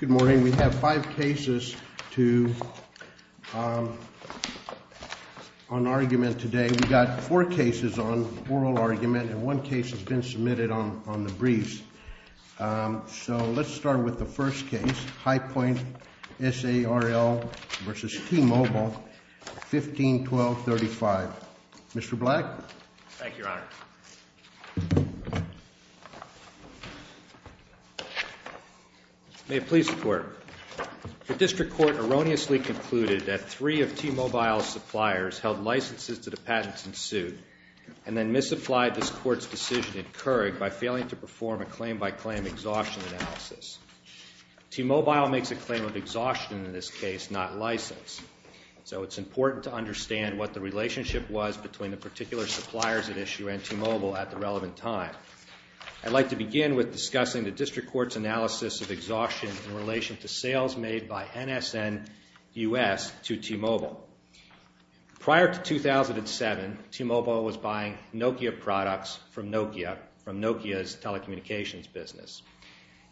Good morning, we have five cases on argument today. We've got four cases on oral argument and one case has been submitted on the briefs. So let's start with the first case, High Point SARL v. T-Mobile, 15-1235. Mr. Black? Thank you, Your Honor. May it please the Court. The District Court erroneously concluded that three of T-Mobile's suppliers held licenses to the patents in suit and then misapplied this Court's decision in Keurig by failing to perform a claim-by-claim exhaustion analysis. T-Mobile makes a claim of exhaustion in this case, not license. So it's important to understand what the relationship was between the particular suppliers at issue and T-Mobile at the relevant time. I'd like to begin with discussing the District Court's analysis of exhaustion in relation to sales made by NSN-US to T-Mobile. Prior to 2007, T-Mobile was buying Nokia products from Nokia, from Nokia's telecommunications business.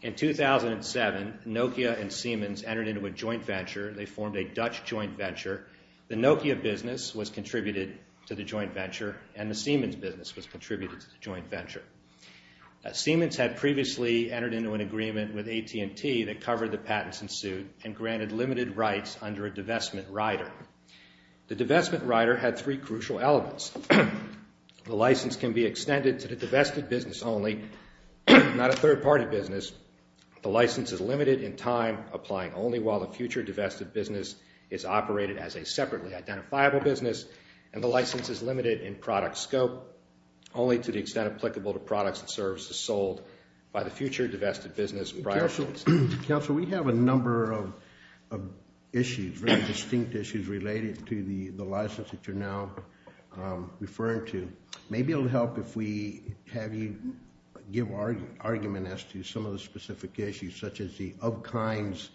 In 2007, Nokia and Siemens entered into a joint venture. They formed a Dutch joint venture. The Nokia business was contributed to the joint venture and the Siemens business was contributed to the joint venture. Siemens had previously entered into an agreement with AT&T that covered the patents in suit and granted limited rights under a divestment rider. The divestment rider had three crucial elements. The license can be extended to the divested business only, not a third-party business. The license is limited in time, applying only while the future divested business is operated as a separately identifiable business. And the license is limited in product scope, only to the extent applicable to products and services sold by the future divested business prior to its time. Counsel, we have a number of issues, very distinct issues related to the license that you're now referring to. Maybe it will help if we have you give argument as to some of the specific issues, such as the of-kinds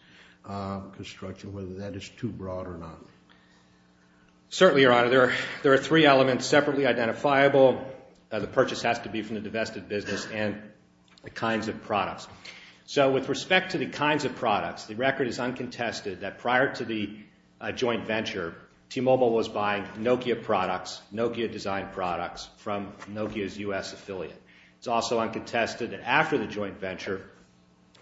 construction, whether that is too broad or not. Certainly, Your Honor. There are three elements separately identifiable. The purchase has to be from the divested business and the kinds of products. So with respect to the kinds of products, the record is uncontested that prior to the joint venture, T-Mobile was buying Nokia products, Nokia-designed products from Nokia's U.S. affiliate. It's also uncontested that after the joint venture,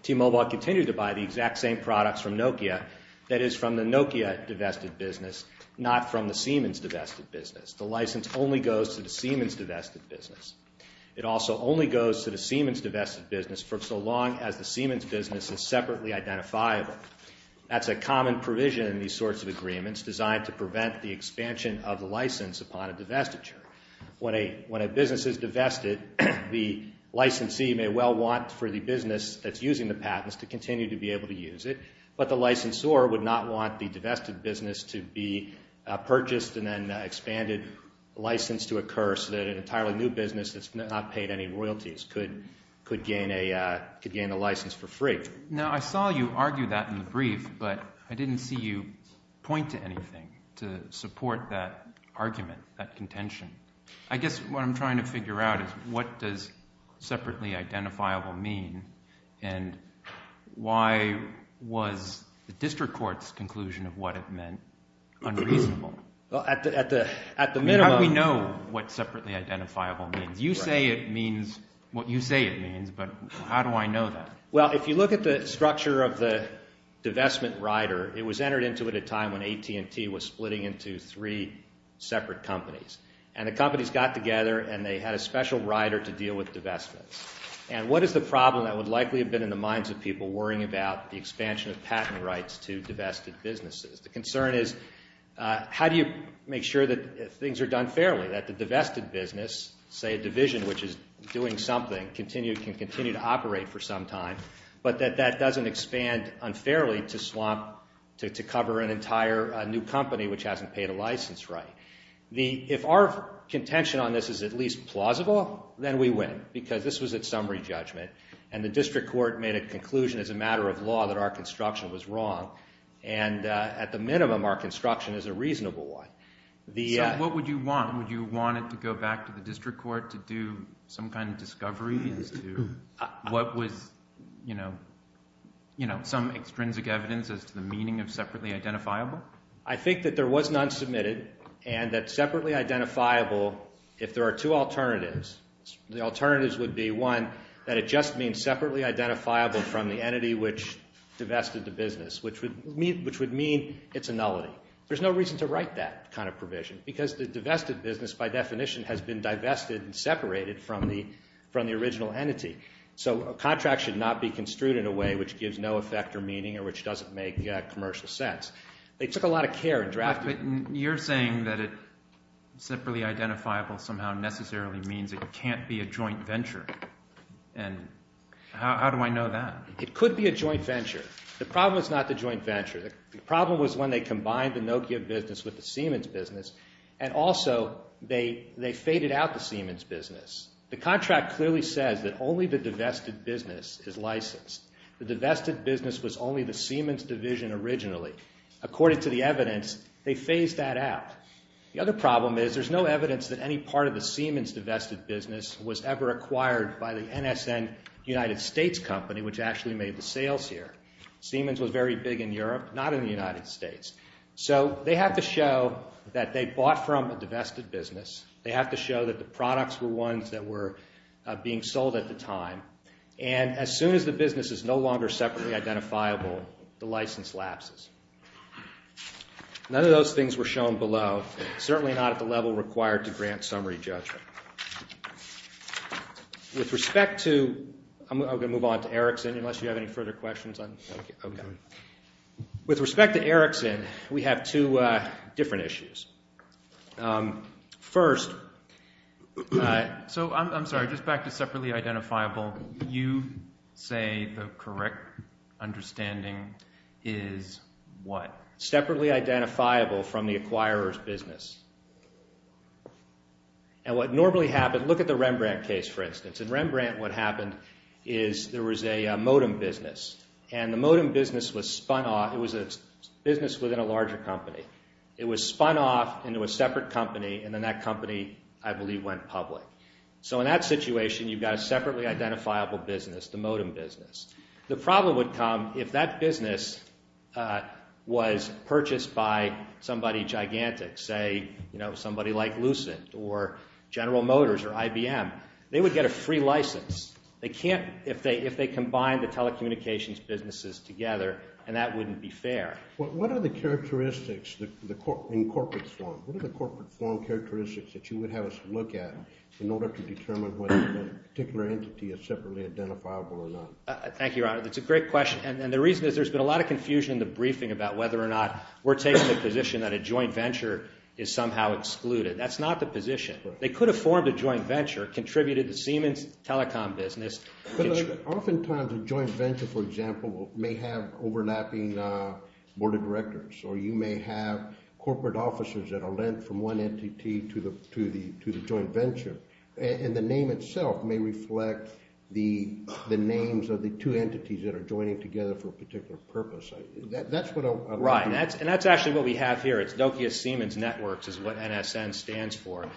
T-Mobile continued to buy the exact same products from Nokia, that is from the Nokia divested business, not from the Siemens divested business. The license only goes to the Siemens divested business. It also only goes to the Siemens divested business for so long as the Siemens business is separately identifiable. That's a common provision in these sorts of agreements designed to prevent the expansion of the license upon a divestiture. When a business is divested, the licensee may well want for the business that's using the patents to continue to be able to use it, but the licensor would not want the divested business to be purchased and then expanded license to occur so that an entirely new business that's not paid any royalties could gain a license for free. Now I saw you argue that in the brief, but I didn't see you point to anything to support that argument, that contention. I guess what I'm trying to figure out is what does separately identifiable mean and why was the district court's conclusion of what it meant unreasonable? How do we know what separately identifiable means? You say it means what you say it means, but how do I know that? Well, if you look at the structure of the divestment rider, it was entered into at a time when AT&T was splitting into three separate companies, and the companies got together and they had a special rider to deal with divestments. And what is the problem that would likely have been in the minds of people worrying about the expansion of patent rights to divested businesses? The concern is how do you make sure that things are done fairly, that the divested business, say a division which is doing something, can continue to operate for some time, but that that doesn't expand unfairly to cover an entire new company which hasn't paid a license right. If our contention on this is at least plausible, then we win, because this was at summary judgment, and the district court made a conclusion as a matter of law that our construction was wrong. And at the minimum, our construction is a reasonable one. So what would you want? Would you want it to go back to the district court to do some kind of discovery as to what was some extrinsic evidence as to the meaning of separately identifiable? I think that there was none submitted, and that separately identifiable, if there are two alternatives, the alternatives would be, one, that it just means separately identifiable from the entity which divested the business, which would mean it's a nullity. There's no reason to write that kind of provision, because the divested business by definition has been divested and separated from the original entity. So a contract should not be construed in a way which gives no effect or meaning or which doesn't make commercial sense. They took a lot of care in drafting it. But you're saying that it separately identifiable somehow necessarily means it can't be a joint venture, and how do I know that? It could be a joint venture. The problem is not the joint venture. The problem was when they combined the Nokia business with the Siemens business, and also they faded out the Siemens business. The contract clearly says that only the divested business is licensed. The divested business was only the Siemens division originally. According to the evidence, they phased that out. The other problem is there's no evidence that any part of the Siemens divested business was ever acquired by the NSN United States company, which actually made the sales here. Siemens was very big in Europe, not in the United States. So they have to show that they bought from a divested business. They have to show that the products were ones that were being sold at the time. And as soon as the business is no longer separately identifiable, the license lapses. None of those things were shown below, certainly not at the level required to grant summary judgment. With respect to—I'm going to move on to Erickson, unless you have any further questions. With respect to Erickson, we have two different issues. First— So I'm sorry, just back to separately identifiable. You say the correct understanding is what? Separately identifiable from the acquirer's business. And what normally happens—look at the Rembrandt case, for instance. In Rembrandt, what happened is there was a modem business. And the modem business was spun off—it was a business within a larger company. It was spun off into a separate company, and then that company, I believe, went public. So in that situation, you've got a separately identifiable business, the modem business. The problem would come if that business was purchased by somebody gigantic, say somebody like Lucent or General Motors or IBM. They would get a free license. They can't—if they combine the telecommunications businesses together, and that wouldn't be fair. What are the characteristics in corporate form? What are the corporate form characteristics that you would have us look at in order to determine whether a particular entity is separately identifiable or not? Thank you, Your Honor. That's a great question, and the reason is there's been a lot of confusion in the briefing about whether or not we're taking the position that a joint venture is somehow excluded. That's not the position. They could have formed a joint venture, contributed the Siemens telecom business. Oftentimes, a joint venture, for example, may have overlapping board of directors, or you may have corporate officers that are lent from one entity to the joint venture, and the name itself may reflect the names of the two entities that are joining together for a particular purpose. That's what I'm— Right, and that's actually what we have here. It's Nokia Siemens Networks is what NSN stands for.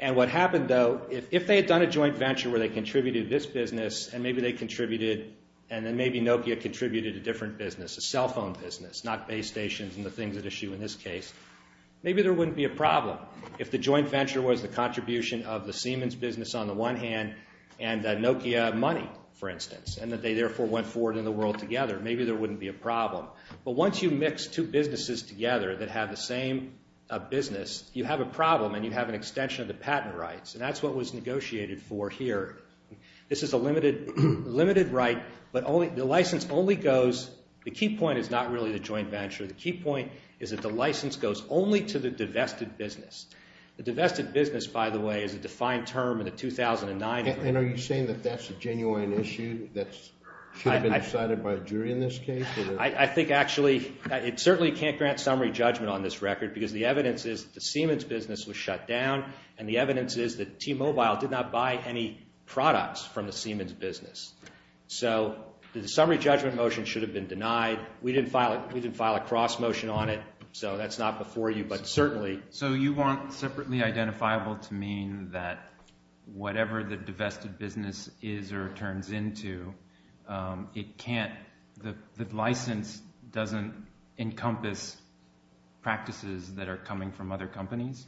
And what happened, though, if they had done a joint venture where they contributed this business, and maybe they contributed—and then maybe Nokia contributed a different business, a cell phone business, not base stations and the things at issue in this case, maybe there wouldn't be a problem. If the joint venture was the contribution of the Siemens business on the one hand and the Nokia money, for instance, and that they therefore went forward in the world together, maybe there wouldn't be a problem. But once you mix two businesses together that have the same business, you have a problem and you have an extension of the patent rights, and that's what was negotiated for here. This is a limited right, but the license only goes—the key point is not really the joint venture. The key point is that the license goes only to the divested business. The divested business, by the way, is a defined term in the 2009— And are you saying that that's a genuine issue that should have been decided by a jury in this case? I think actually it certainly can't grant summary judgment on this record because the evidence is the Siemens business was shut down, and the evidence is that T-Mobile did not buy any products from the Siemens business. So the summary judgment motion should have been denied. We didn't file a cross motion on it, so that's not before you, but certainly— So you want separately identifiable to mean that whatever the divested business is or turns into, it can't—the license doesn't encompass practices that are coming from other companies?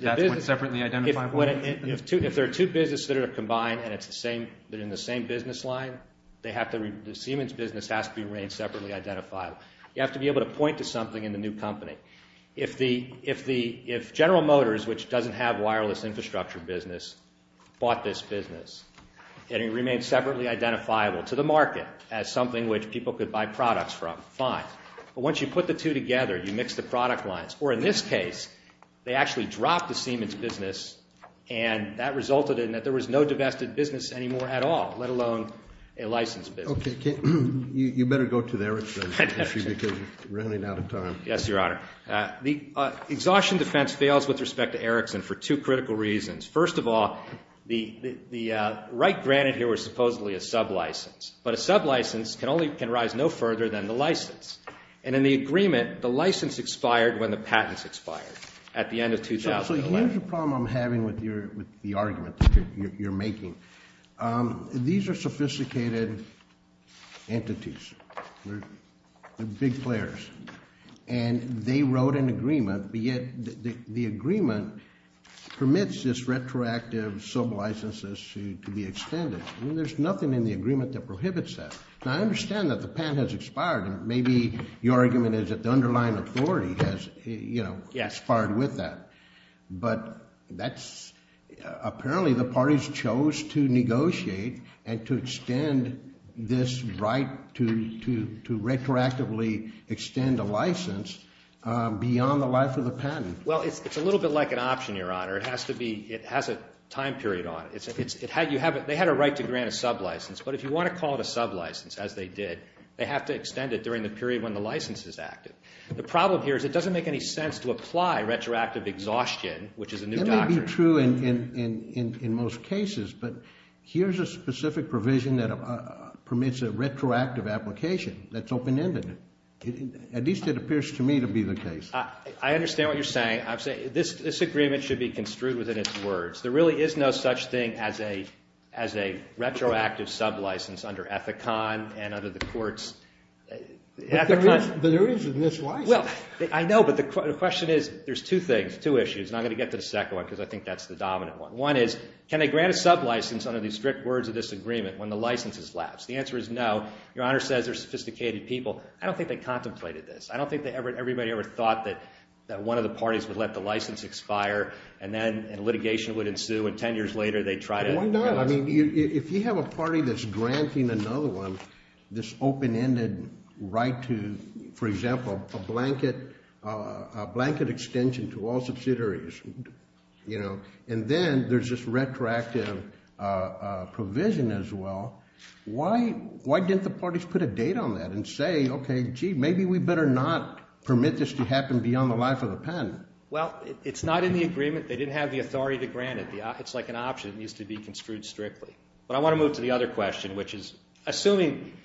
That's what's separately identifiable? If there are two businesses that are combined and they're in the same business line, the Siemens business has to remain separately identifiable. You have to be able to point to something in the new company. If General Motors, which doesn't have a wireless infrastructure business, bought this business, and it remained separately identifiable to the market as something which people could buy products from, fine. But once you put the two together, you mix the product lines. Or in this case, they actually dropped the Siemens business, and that resulted in that there was no divested business anymore at all, let alone a licensed business. Okay. You better go to the Erickson issue because you're running out of time. Yes, Your Honor. The exhaustion defense fails with respect to Erickson for two critical reasons. First of all, the right granted here was supposedly a sublicense, but a sublicense can only—can rise no further than the license. And in the agreement, the license expired when the patent expired at the end of 2011. So here's the problem I'm having with the argument that you're making. These are sophisticated entities. They're big players. And they wrote an agreement, but yet the agreement permits this retroactive sublicense to be extended. There's nothing in the agreement that prohibits that. Now, I understand that the patent has expired, and maybe your argument is that the underlying authority has, you know— Yes. —expired with that. But that's—apparently the parties chose to negotiate and to extend this right to retroactively extend a license beyond the life of the patent. Well, it's a little bit like an option, Your Honor. It has to be—it has a time period on it. They had a right to grant a sublicense, but if you want to call it a sublicense, as they did, they have to extend it during the period when the license is active. The problem here is it doesn't make any sense to apply retroactive exhaustion, which is a new doctrine. That may be true in most cases, but here's a specific provision that permits a retroactive application that's open-ended. At least it appears to me to be the case. I understand what you're saying. This agreement should be construed within its words. There really is no such thing as a retroactive sublicense under Ethicon and under the court's— But there is in this license. Well, I know, but the question is—there's two things, two issues, and I'm going to get to the second one because I think that's the dominant one. One is can they grant a sublicense under these strict words of this agreement when the license has lapsed? The answer is no. Your Honor says they're sophisticated people. I don't think they contemplated this. I don't think everybody ever thought that one of the parties would let the license expire, and then litigation would ensue, and 10 years later they'd try to— Why not? I mean, if you have a party that's granting another one this open-ended right to, for example, a blanket extension to all subsidiaries, and then there's this retroactive provision as well, why didn't the parties put a date on that and say, okay, gee, maybe we better not permit this to happen beyond the life of the patent? Well, it's not in the agreement. They didn't have the authority to grant it. It's like an option. It needs to be construed strictly. But I want to move to the other question, which is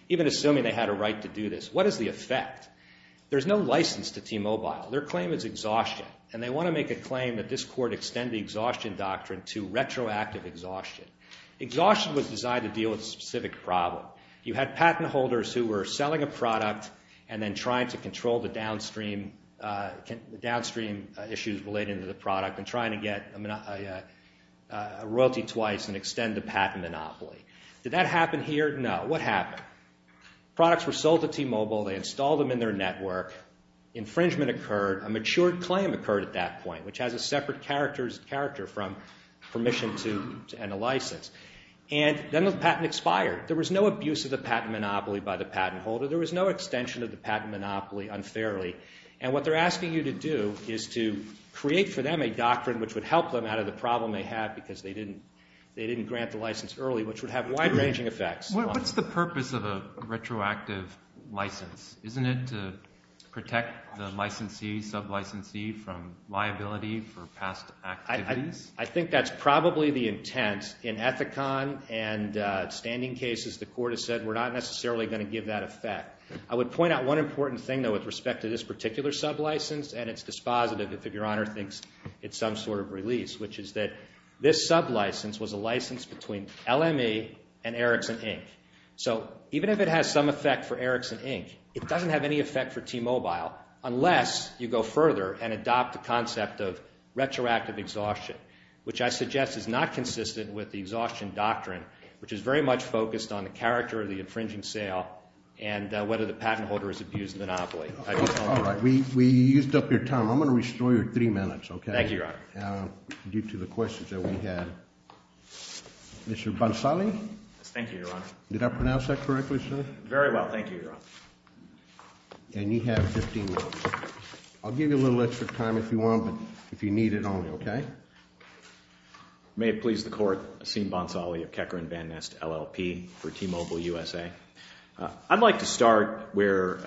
even assuming they had a right to do this, what is the effect? There's no license to T-Mobile. Their claim is exhaustion. And they want to make a claim that this court extend the exhaustion doctrine to retroactive exhaustion. Exhaustion was designed to deal with a specific problem. You had patent holders who were selling a product and then trying to control the downstream issues related to the product and trying to get a royalty twice and extend the patent monopoly. Did that happen here? No. What happened? Products were sold to T-Mobile. They installed them in their network. Infringement occurred. A matured claim occurred at that point, which has a separate character from permission and a license. And then the patent expired. There was no abuse of the patent monopoly by the patent holder. There was no extension of the patent monopoly unfairly. And what they're asking you to do is to create for them a doctrine which would help them out of the problem they had because they didn't grant the license early, which would have wide-ranging effects. What's the purpose of a retroactive license? Isn't it to protect the licensee, sub-licensee, from liability for past activities? I think that's probably the intent. In Ethicon and standing cases, the court has said we're not necessarily going to give that effect. I would point out one important thing, though, with respect to this particular sub-license, and it's dispositive if Your Honor thinks it's some sort of release, which is that this sub-license was a license between LME and Ericsson, Inc. So even if it has some effect for Ericsson, Inc., it doesn't have any effect for T-Mobile unless you go further and adopt the concept of retroactive exhaustion, which I suggest is not consistent with the exhaustion doctrine, which is very much focused on the character of the infringing sale and whether the patent holder has abused the monopoly. All right. We used up your time. I'm going to restore your three minutes, okay? Thank you, Your Honor. Due to the questions that we had. Mr. Bansali? Yes, thank you, Your Honor. Did I pronounce that correctly, sir? Very well. Thank you, Your Honor. And you have 15 minutes. I'll give you a little extra time if you want, but if you need it only, okay? May it please the court, Asim Bansali of Keckerin Van Nest LLP for T-Mobile USA. I'd like to start where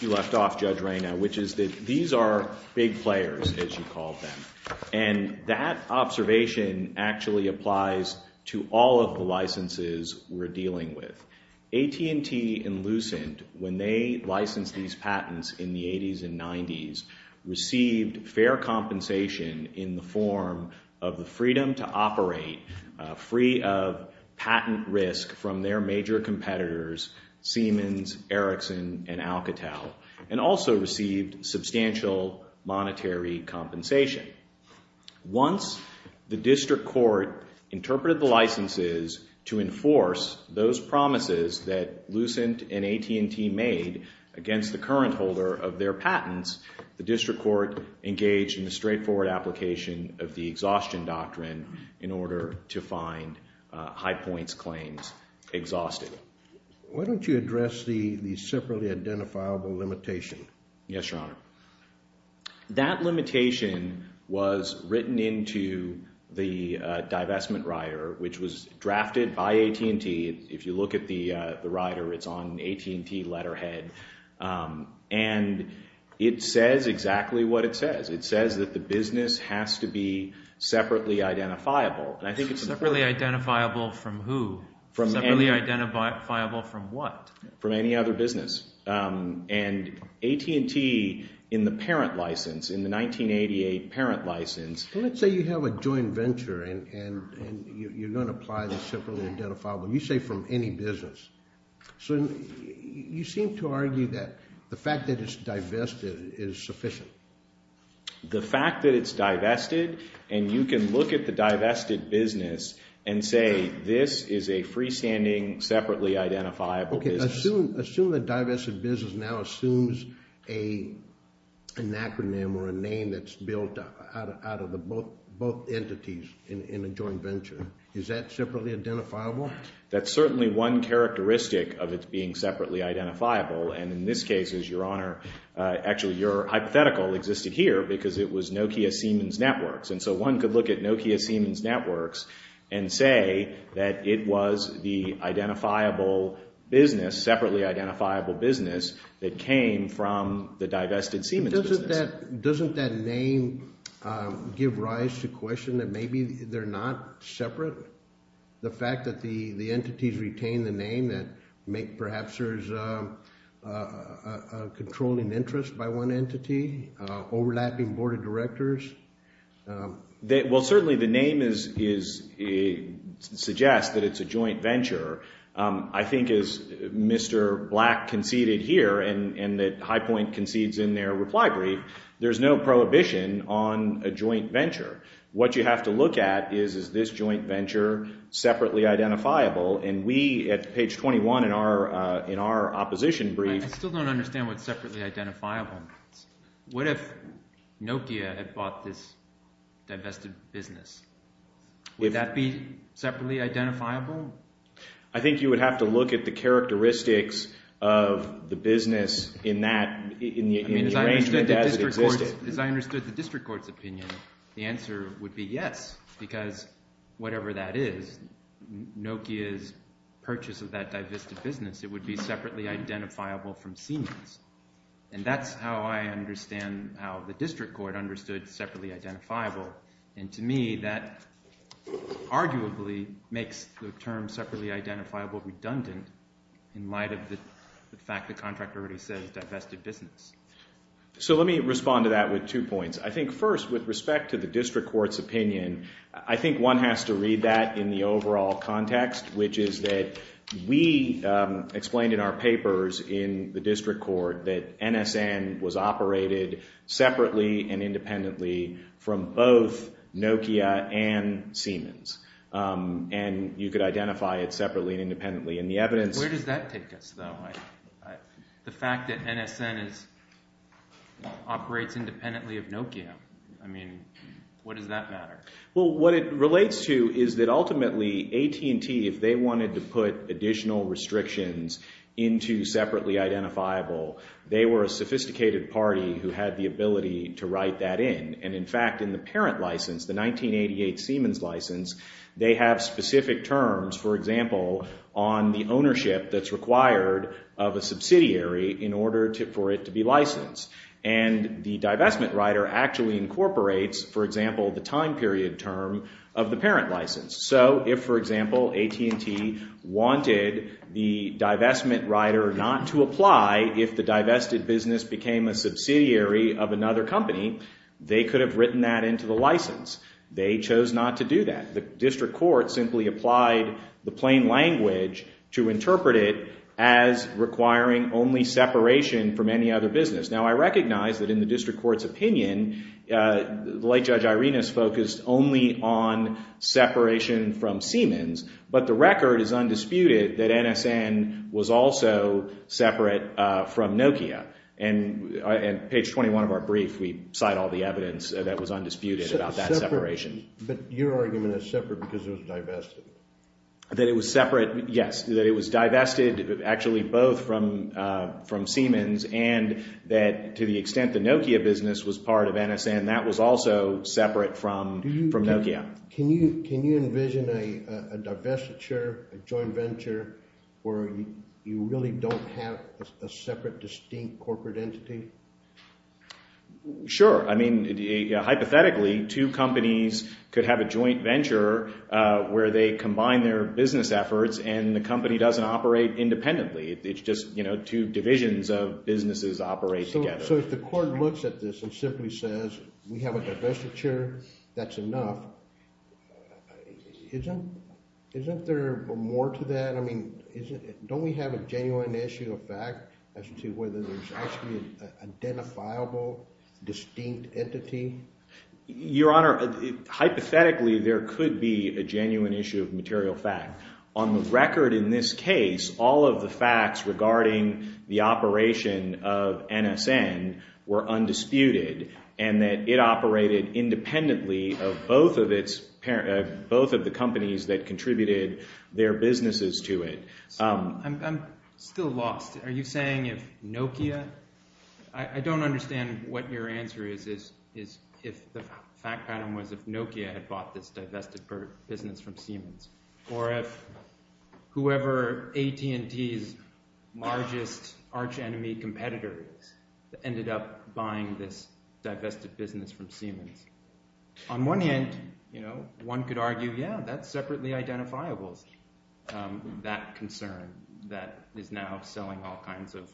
you left off, Judge Reyna, which is that these are big players, as you called them, and that observation actually applies to all of the licenses we're dealing with. AT&T and Lucent, when they licensed these patents in the 80s and 90s, received fair compensation in the form of the freedom to operate free of patent risk from their major competitors, Siemens, Ericsson, and Alcatel, and also received substantial monetary compensation. Once the district court interpreted the licenses to enforce those promises that Lucent and AT&T made against the current holder of their patents, the district court engaged in a straightforward application of the exhaustion doctrine in order to find high points claims exhausted. Why don't you address the separately identifiable limitation? Yes, Your Honor. That limitation was written into the divestment rider, which was drafted by AT&T. If you look at the rider, it's on AT&T letterhead, and it says exactly what it says. It says that the business has to be separately identifiable. Separately identifiable from who? Separately identifiable from what? From any other business. And AT&T, in the parent license, in the 1988 parent license… Let's say you have a joint venture and you're going to apply the separately identifiable. You say from any business. So you seem to argue that the fact that it's divested is sufficient. The fact that it's divested, and you can look at the divested business and say this is a freestanding, separately identifiable business. Assume the divested business now assumes an acronym or a name that's built out of both entities in a joint venture. Is that separately identifiable? That's certainly one characteristic of it being separately identifiable, and in this case, Your Honor, actually your hypothetical existed here because it was Nokia Siemens Networks. And so one could look at Nokia Siemens Networks and say that it was the identifiable business, separately identifiable business that came from the divested Siemens business. Doesn't that name give rise to question that maybe they're not separate? The fact that the entities retain the name that make perhaps there's a controlling interest by one entity, overlapping board of directors? Well, certainly the name suggests that it's a joint venture. I think as Mr. Black conceded here and that Highpoint concedes in their reply brief, there's no prohibition on a joint venture. What you have to look at is, is this joint venture separately identifiable? And we at page 21 in our opposition brief. I still don't understand what separately identifiable means. What if Nokia had bought this divested business? Would that be separately identifiable? I think you would have to look at the characteristics of the business in that, in the arrangement as it existed. As I understood the district court's opinion, the answer would be yes because whatever that is, Nokia's purchase of that divested business, it would be separately identifiable from Siemens. And that's how I understand how the district court understood separately identifiable. And to me, that arguably makes the term separately identifiable redundant in light of the fact the contract already says divested business. So let me respond to that with two points. I think first with respect to the district court's opinion, I think one has to read that in the overall context, which is that we explained in our papers in the district court that NSN was operated separately and independently from both Nokia and Siemens. And you could identify it separately and independently. And the evidence- Where does that take us though? The fact that NSN operates independently of Nokia. I mean, what does that matter? Well, what it relates to is that ultimately AT&T, if they wanted to put additional restrictions into separately identifiable, they were a sophisticated party who had the ability to write that in. And in fact, in the parent license, the 1988 Siemens license, they have specific terms, for example, on the ownership that's required of a subsidiary in order for it to be licensed. And the divestment rider actually incorporates, for example, the time period term of the parent license. So if, for example, AT&T wanted the divestment rider not to apply if the divested business became a subsidiary of another company, they could have written that into the license. They chose not to do that. The district court simply applied the plain language to interpret it as requiring only separation from any other business. Now, I recognize that in the district court's opinion, the late Judge Irenas focused only on separation from Siemens, but the record is undisputed that NSN was also separate from Nokia. And page 21 of our brief, we cite all the evidence that was undisputed about that separation. But your argument is separate because it was divested. That it was separate, yes. That it was divested actually both from Siemens and that to the extent the Nokia business was part of NSN, that was also separate from Nokia. Can you envision a divestiture, a joint venture, where you really don't have a separate distinct corporate entity? Sure. I mean, hypothetically, two companies could have a joint venture where they combine their business efforts and the company doesn't operate independently. It's just two divisions of businesses operate together. So if the court looks at this and simply says we have a divestiture, that's enough, isn't there more to that? Don't we have a genuine issue of fact as to whether there's actually an identifiable distinct entity? Your Honor, hypothetically, there could be a genuine issue of material fact. On the record in this case, all of the facts regarding the operation of NSN were undisputed and that it operated independently of both of the companies that contributed their businesses to it. I'm still lost. Are you saying if Nokia – I don't understand what your answer is if the fact pattern was if Nokia had bought this divested business from Siemens. Or if whoever AT&T's largest arch enemy competitor is ended up buying this divested business from Siemens. On one hand, one could argue, yeah, that's separately identifiable, that concern that is now selling all kinds of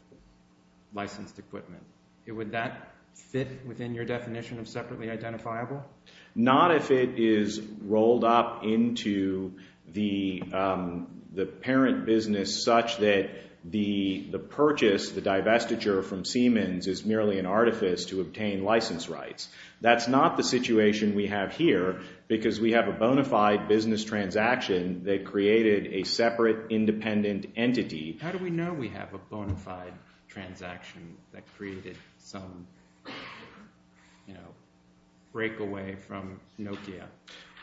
licensed equipment. Would that fit within your definition of separately identifiable? Not if it is rolled up into the parent business such that the purchase, the divestiture from Siemens is merely an artifice to obtain license rights. That's not the situation we have here because we have a bona fide business transaction that created a separate independent entity. How do we know we have a bona fide transaction that created some, you know, breakaway from Nokia?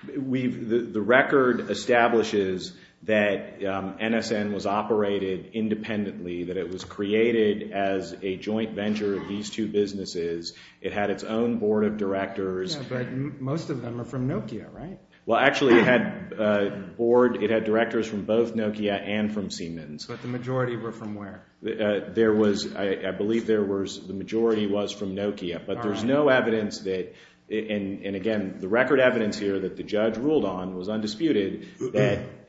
The record establishes that NSN was operated independently, that it was created as a joint venture of these two businesses. It had its own board of directors. Yeah, but most of them are from Nokia, right? Well, actually, it had directors from both Nokia and from Siemens. But the majority were from where? There was – I believe there was – the majority was from Nokia. But there's no evidence that – and again, the record evidence here that the judge ruled on was undisputed.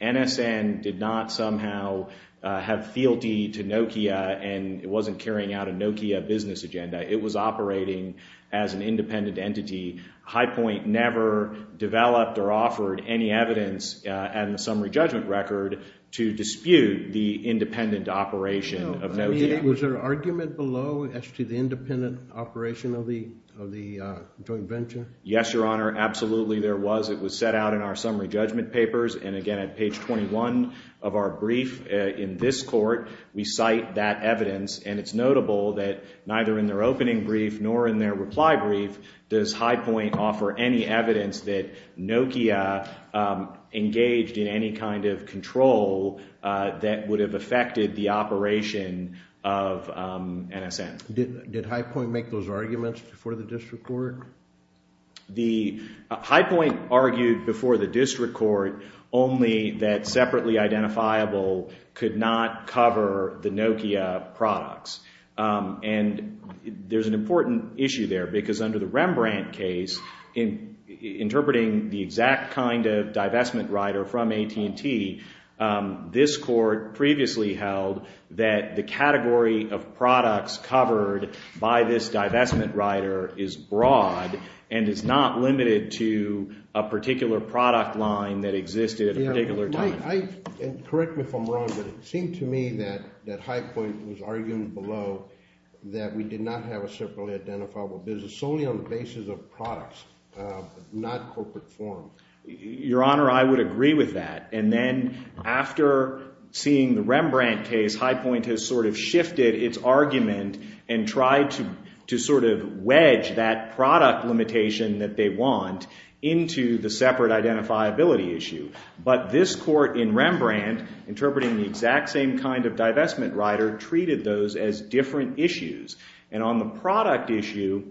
NSN did not somehow have fealty to Nokia and it wasn't carrying out a Nokia business agenda. It was operating as an independent entity. High Point never developed or offered any evidence in the summary judgment record to dispute the independent operation of Nokia. Was there argument below as to the independent operation of the joint venture? Yes, Your Honor. Absolutely there was. It was set out in our summary judgment papers. And again, at page 21 of our brief in this court, we cite that evidence. And it's notable that neither in their opening brief nor in their reply brief does High Point offer any evidence that Nokia engaged in any kind of control that would have affected the operation of NSN. Did High Point make those arguments before the district court? The – High Point argued before the district court only that separately identifiable could not cover the Nokia products. And there's an important issue there because under the Rembrandt case, interpreting the exact kind of divestment rider from AT&T, this court previously held that the category of products covered by this divestment rider is broad and is not limited to a particular product line that existed at a particular time. And correct me if I'm wrong, but it seemed to me that High Point was arguing below that we did not have a separately identifiable business solely on the basis of products, not corporate form. Your Honor, I would agree with that. And then after seeing the Rembrandt case, High Point has sort of shifted its argument and tried to sort of wedge that product limitation that they want into the separate identifiability issue. But this court in Rembrandt, interpreting the exact same kind of divestment rider, treated those as different issues. And on the product issue,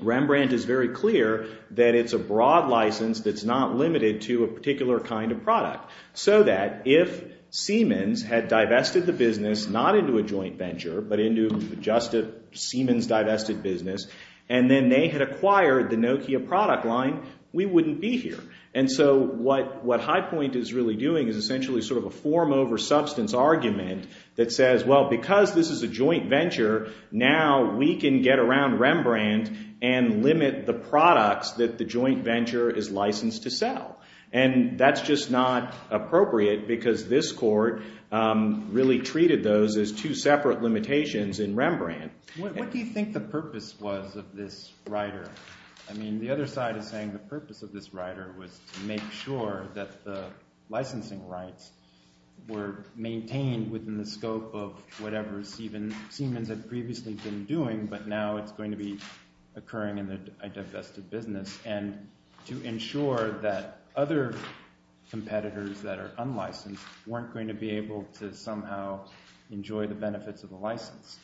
Rembrandt is very clear that it's a broad license that's not limited to a particular kind of product so that if Siemens had divested the business not into a joint venture but into just a Siemens divested business and then they had acquired the Nokia product line, we wouldn't be here. And so what High Point is really doing is essentially sort of a form over substance argument that says, well, because this is a joint venture, now we can get around Rembrandt and limit the products that the joint venture is licensed to sell. And that's just not appropriate because this court really treated those as two separate limitations in Rembrandt. What do you think the purpose was of this rider? I mean, the other side is saying the purpose of this rider was to make sure that the licensing rights were maintained within the scope of whatever Siemens had previously been doing but now it's going to be occurring in a divested business. And to ensure that other competitors that are unlicensed weren't going to be able to somehow enjoy the benefits of the license.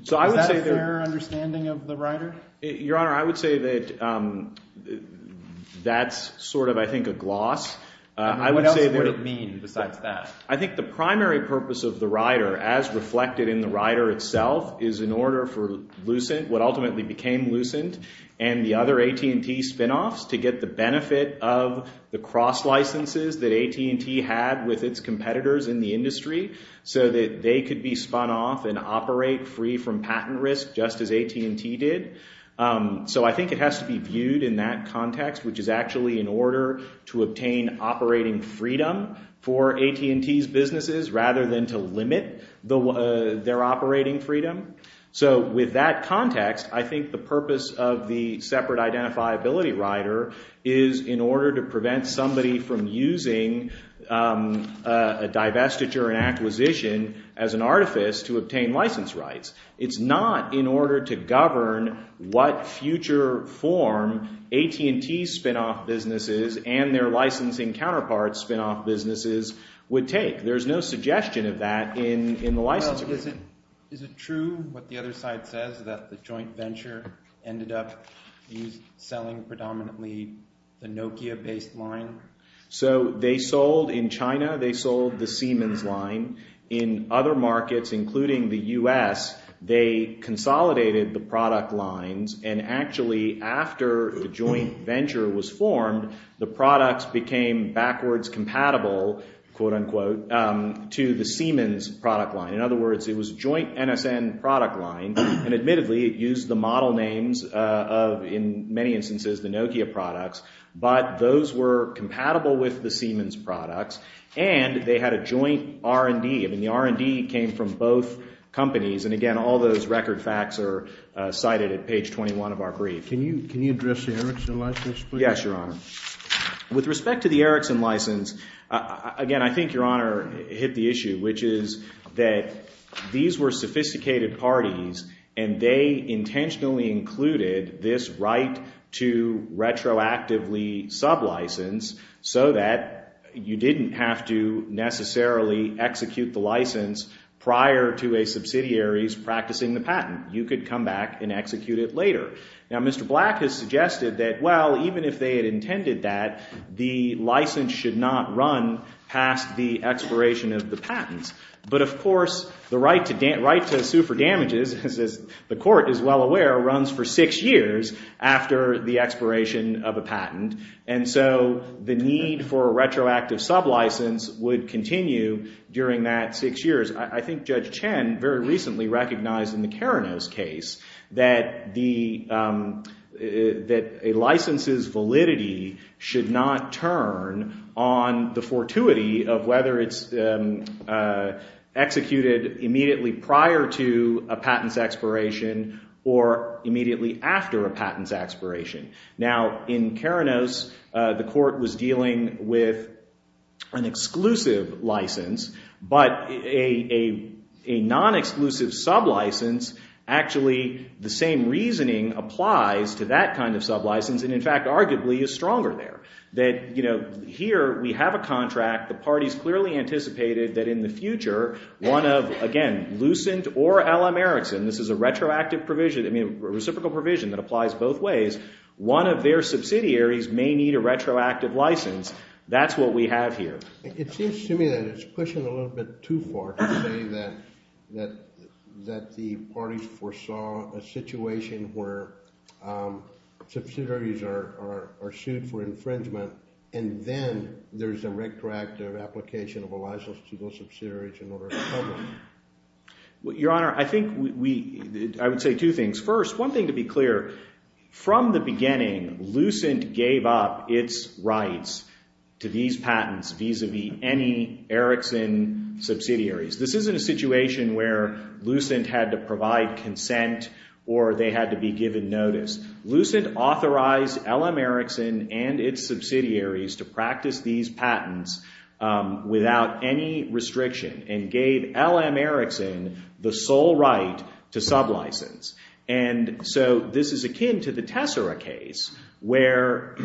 Is that a fair understanding of the rider? Your Honor, I would say that that's sort of I think a gloss. What else would it mean besides that? So I think it has to be viewed in that context, which is actually in order to obtain operating freedom for AT&T's businesses rather than to limit their operating freedom. So with that context, I think the purpose of the separate identifiability rider is in order to prevent somebody from using a divestiture and acquisition as an artifice to obtain license rights. It's not in order to govern what future form AT&T's spinoff businesses and their licensing counterpart spinoff businesses would take. There's no suggestion of that in the license agreement. Well, is it true what the other side says that the joint venture ended up selling predominantly the Nokia-based line? So they sold in China. They sold the Siemens line. In other markets, including the U.S., they consolidated the product lines. And actually after the joint venture was formed, the products became backwards compatible, quote unquote, to the Siemens product line. In other words, it was a joint NSN product line. And admittedly, it used the model names of in many instances the Nokia products. But those were compatible with the Siemens products. And they had a joint R&D. I mean, the R&D came from both companies. And again, all those record facts are cited at page 21 of our brief. Can you address the Erickson license, please? Yes, Your Honor. With respect to the Erickson license, again, I think Your Honor hit the issue, which is that these were sophisticated parties. And they intentionally included this right to retroactively sublicense so that you didn't have to necessarily execute the license prior to a subsidiary's practicing the patent. You could come back and execute it later. Now, Mr. Black has suggested that, well, even if they had intended that, the license should not run past the expiration of the patents. But, of course, the right to sue for damages, as the court is well aware, runs for six years after the expiration of a patent. And so the need for a retroactive sublicense would continue during that six years. I think Judge Chen very recently recognized in the Keranos case that a license's validity should not turn on the fortuity of whether it's executed immediately prior to a patent's expiration or immediately after a patent's expiration. Now, in Keranos, the court was dealing with an exclusive license. But a non-exclusive sublicense, actually, the same reasoning applies to that kind of sublicense and, in fact, arguably is stronger there. That, you know, here we have a contract. The parties clearly anticipated that in the future, one of, again, Lucent or L.M. Erickson, this is a retroactive provision, I mean, a reciprocal provision that applies both ways. One of their subsidiaries may need a retroactive license. That's what we have here. It seems to me that it's pushing a little bit too far to say that the parties foresaw a situation where subsidiaries are sued for infringement and then there's a retroactive application of a license to those subsidiaries in order to cover them. Your Honor, I think we – I would say two things. First, one thing to be clear, from the beginning, Lucent gave up its rights to these patents vis-a-vis any Erickson subsidiaries. This isn't a situation where Lucent had to provide consent or they had to be given notice. Lucent authorized L.M. Erickson and its subsidiaries to practice these patents without any restriction and gave L.M. Erickson the sole right to sublicense. And so this is akin to the Tessera case where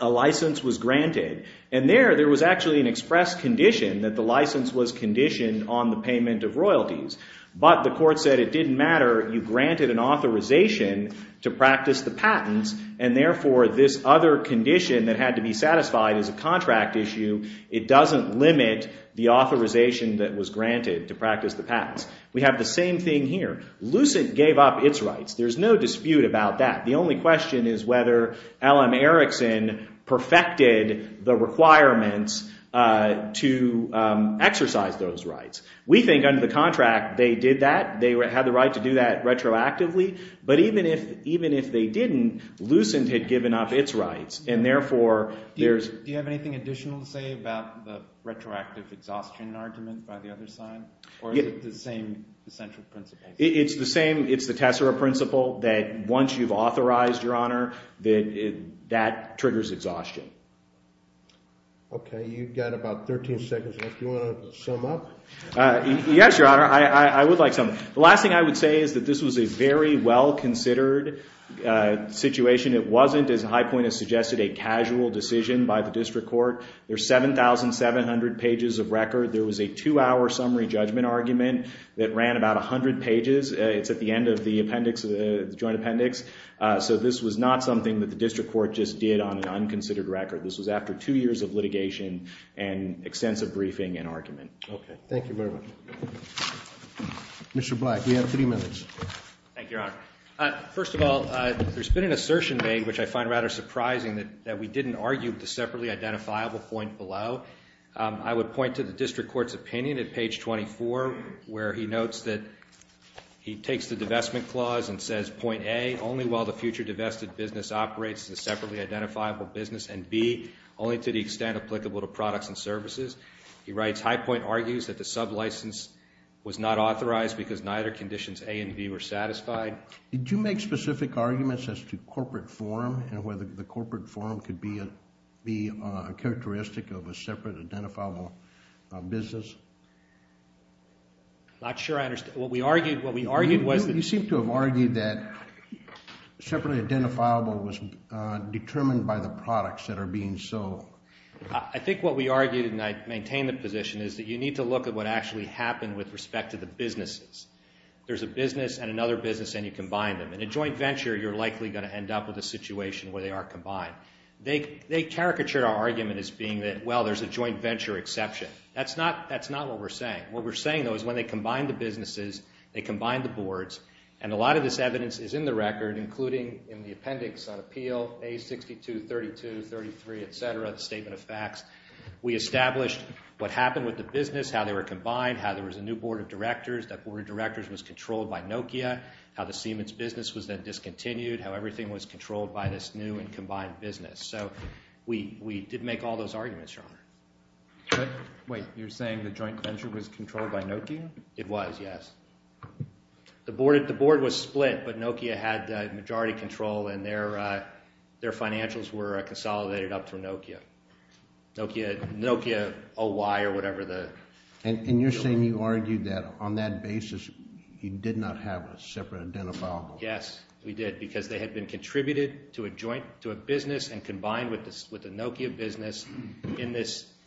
a license was granted. And there, there was actually an express condition that the license was conditioned on the payment of royalties. But the court said it didn't matter. You granted an authorization to practice the patents, and therefore this other condition that had to be satisfied is a contract issue. It doesn't limit the authorization that was granted to practice the patents. We have the same thing here. Lucent gave up its rights. There's no dispute about that. The only question is whether L.M. Erickson perfected the requirements to exercise those rights. We think under the contract they did that. They had the right to do that retroactively. But even if they didn't, Lucent had given up its rights, and therefore there's— Do you have anything additional to say about the retroactive exhaustion argument by the other side? Or is it the same essential principle? It's the same. It's the Tessera principle that once you've authorized your honor, that triggers exhaustion. Okay. You've got about 13 seconds left. Do you want to sum up? Yes, Your Honor. I would like some. The last thing I would say is that this was a very well-considered situation. It wasn't, as High Point has suggested, a casual decision by the district court. There's 7,700 pages of record. There was a two-hour summary judgment argument that ran about 100 pages. It's at the end of the appendix, the joint appendix. So this was not something that the district court just did on an unconsidered record. This was after two years of litigation and extensive briefing and argument. Okay. Thank you very much. Mr. Black, we have three minutes. Thank you, Your Honor. First of all, there's been an assertion made, which I find rather surprising, that we didn't argue the separately identifiable point below. I would point to the district court's opinion at page 24, where he notes that he takes the divestment clause and says, Point A, only while the future divested business operates as a separately identifiable business, and B, only to the extent applicable to products and services. He writes, High Point argues that the sub-license was not authorized because neither conditions A and B were satisfied. Did you make specific arguments as to corporate form and whether the corporate form could be a characteristic of a separate identifiable business? I'm not sure I understand. What we argued was that— You seem to have argued that separately identifiable was determined by the products that are being sold. I think what we argued, and I maintain the position, is that you need to look at what actually happened with respect to the businesses. There's a business and another business, and you combine them. In a joint venture, you're likely going to end up with a situation where they aren't combined. They caricatured our argument as being that, well, there's a joint venture exception. That's not what we're saying. What we're saying, though, is when they combine the businesses, they combine the boards, and a lot of this evidence is in the record, including in the appendix on appeal, A62, 32, 33, et cetera, the statement of facts. We established what happened with the business, how they were combined, how there was a new board of directors. That board of directors was controlled by Nokia, how the Siemens business was then discontinued, how everything was controlled by this new and combined business. So we did make all those arguments, Your Honor. Wait, you're saying the joint venture was controlled by Nokia? It was, yes. The board was split, but Nokia had majority control, and their financials were consolidated up to Nokia. Nokia OY or whatever the deal was. And you're saying you argued that on that basis you did not have a separate identifiable board?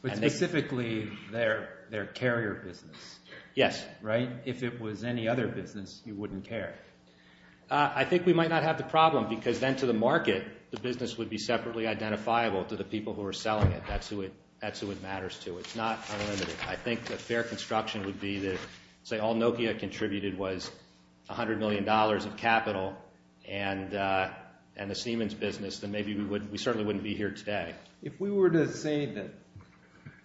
But specifically their carrier business. Yes. Right? If it was any other business, you wouldn't care. I think we might not have the problem, because then to the market, the business would be separately identifiable to the people who were selling it. That's who it matters to. It's not unlimited. I think the fair construction would be that, say, all Nokia contributed was $100 million of capital and the Siemens business, then maybe we certainly wouldn't be here today. If we were to say that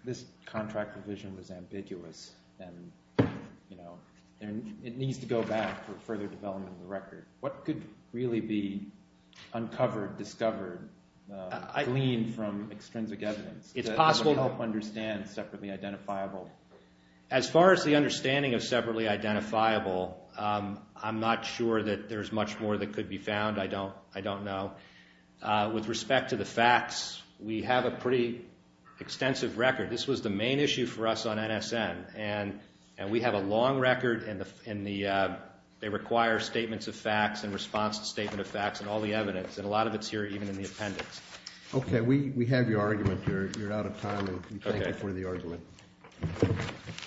this contract provision was ambiguous and it needs to go back for further development of the record, what could really be uncovered, discovered, gleaned from extrinsic evidence to help understand separately identifiable? As far as the understanding of separately identifiable, I'm not sure that there's much more that could be found. I don't know. With respect to the facts, we have a pretty extensive record. This was the main issue for us on NSN, and we have a long record. They require statements of facts and response to statement of facts and all the evidence, and a lot of it's here even in the appendix. Okay. We have your argument. You're out of time, and we thank you for the argument.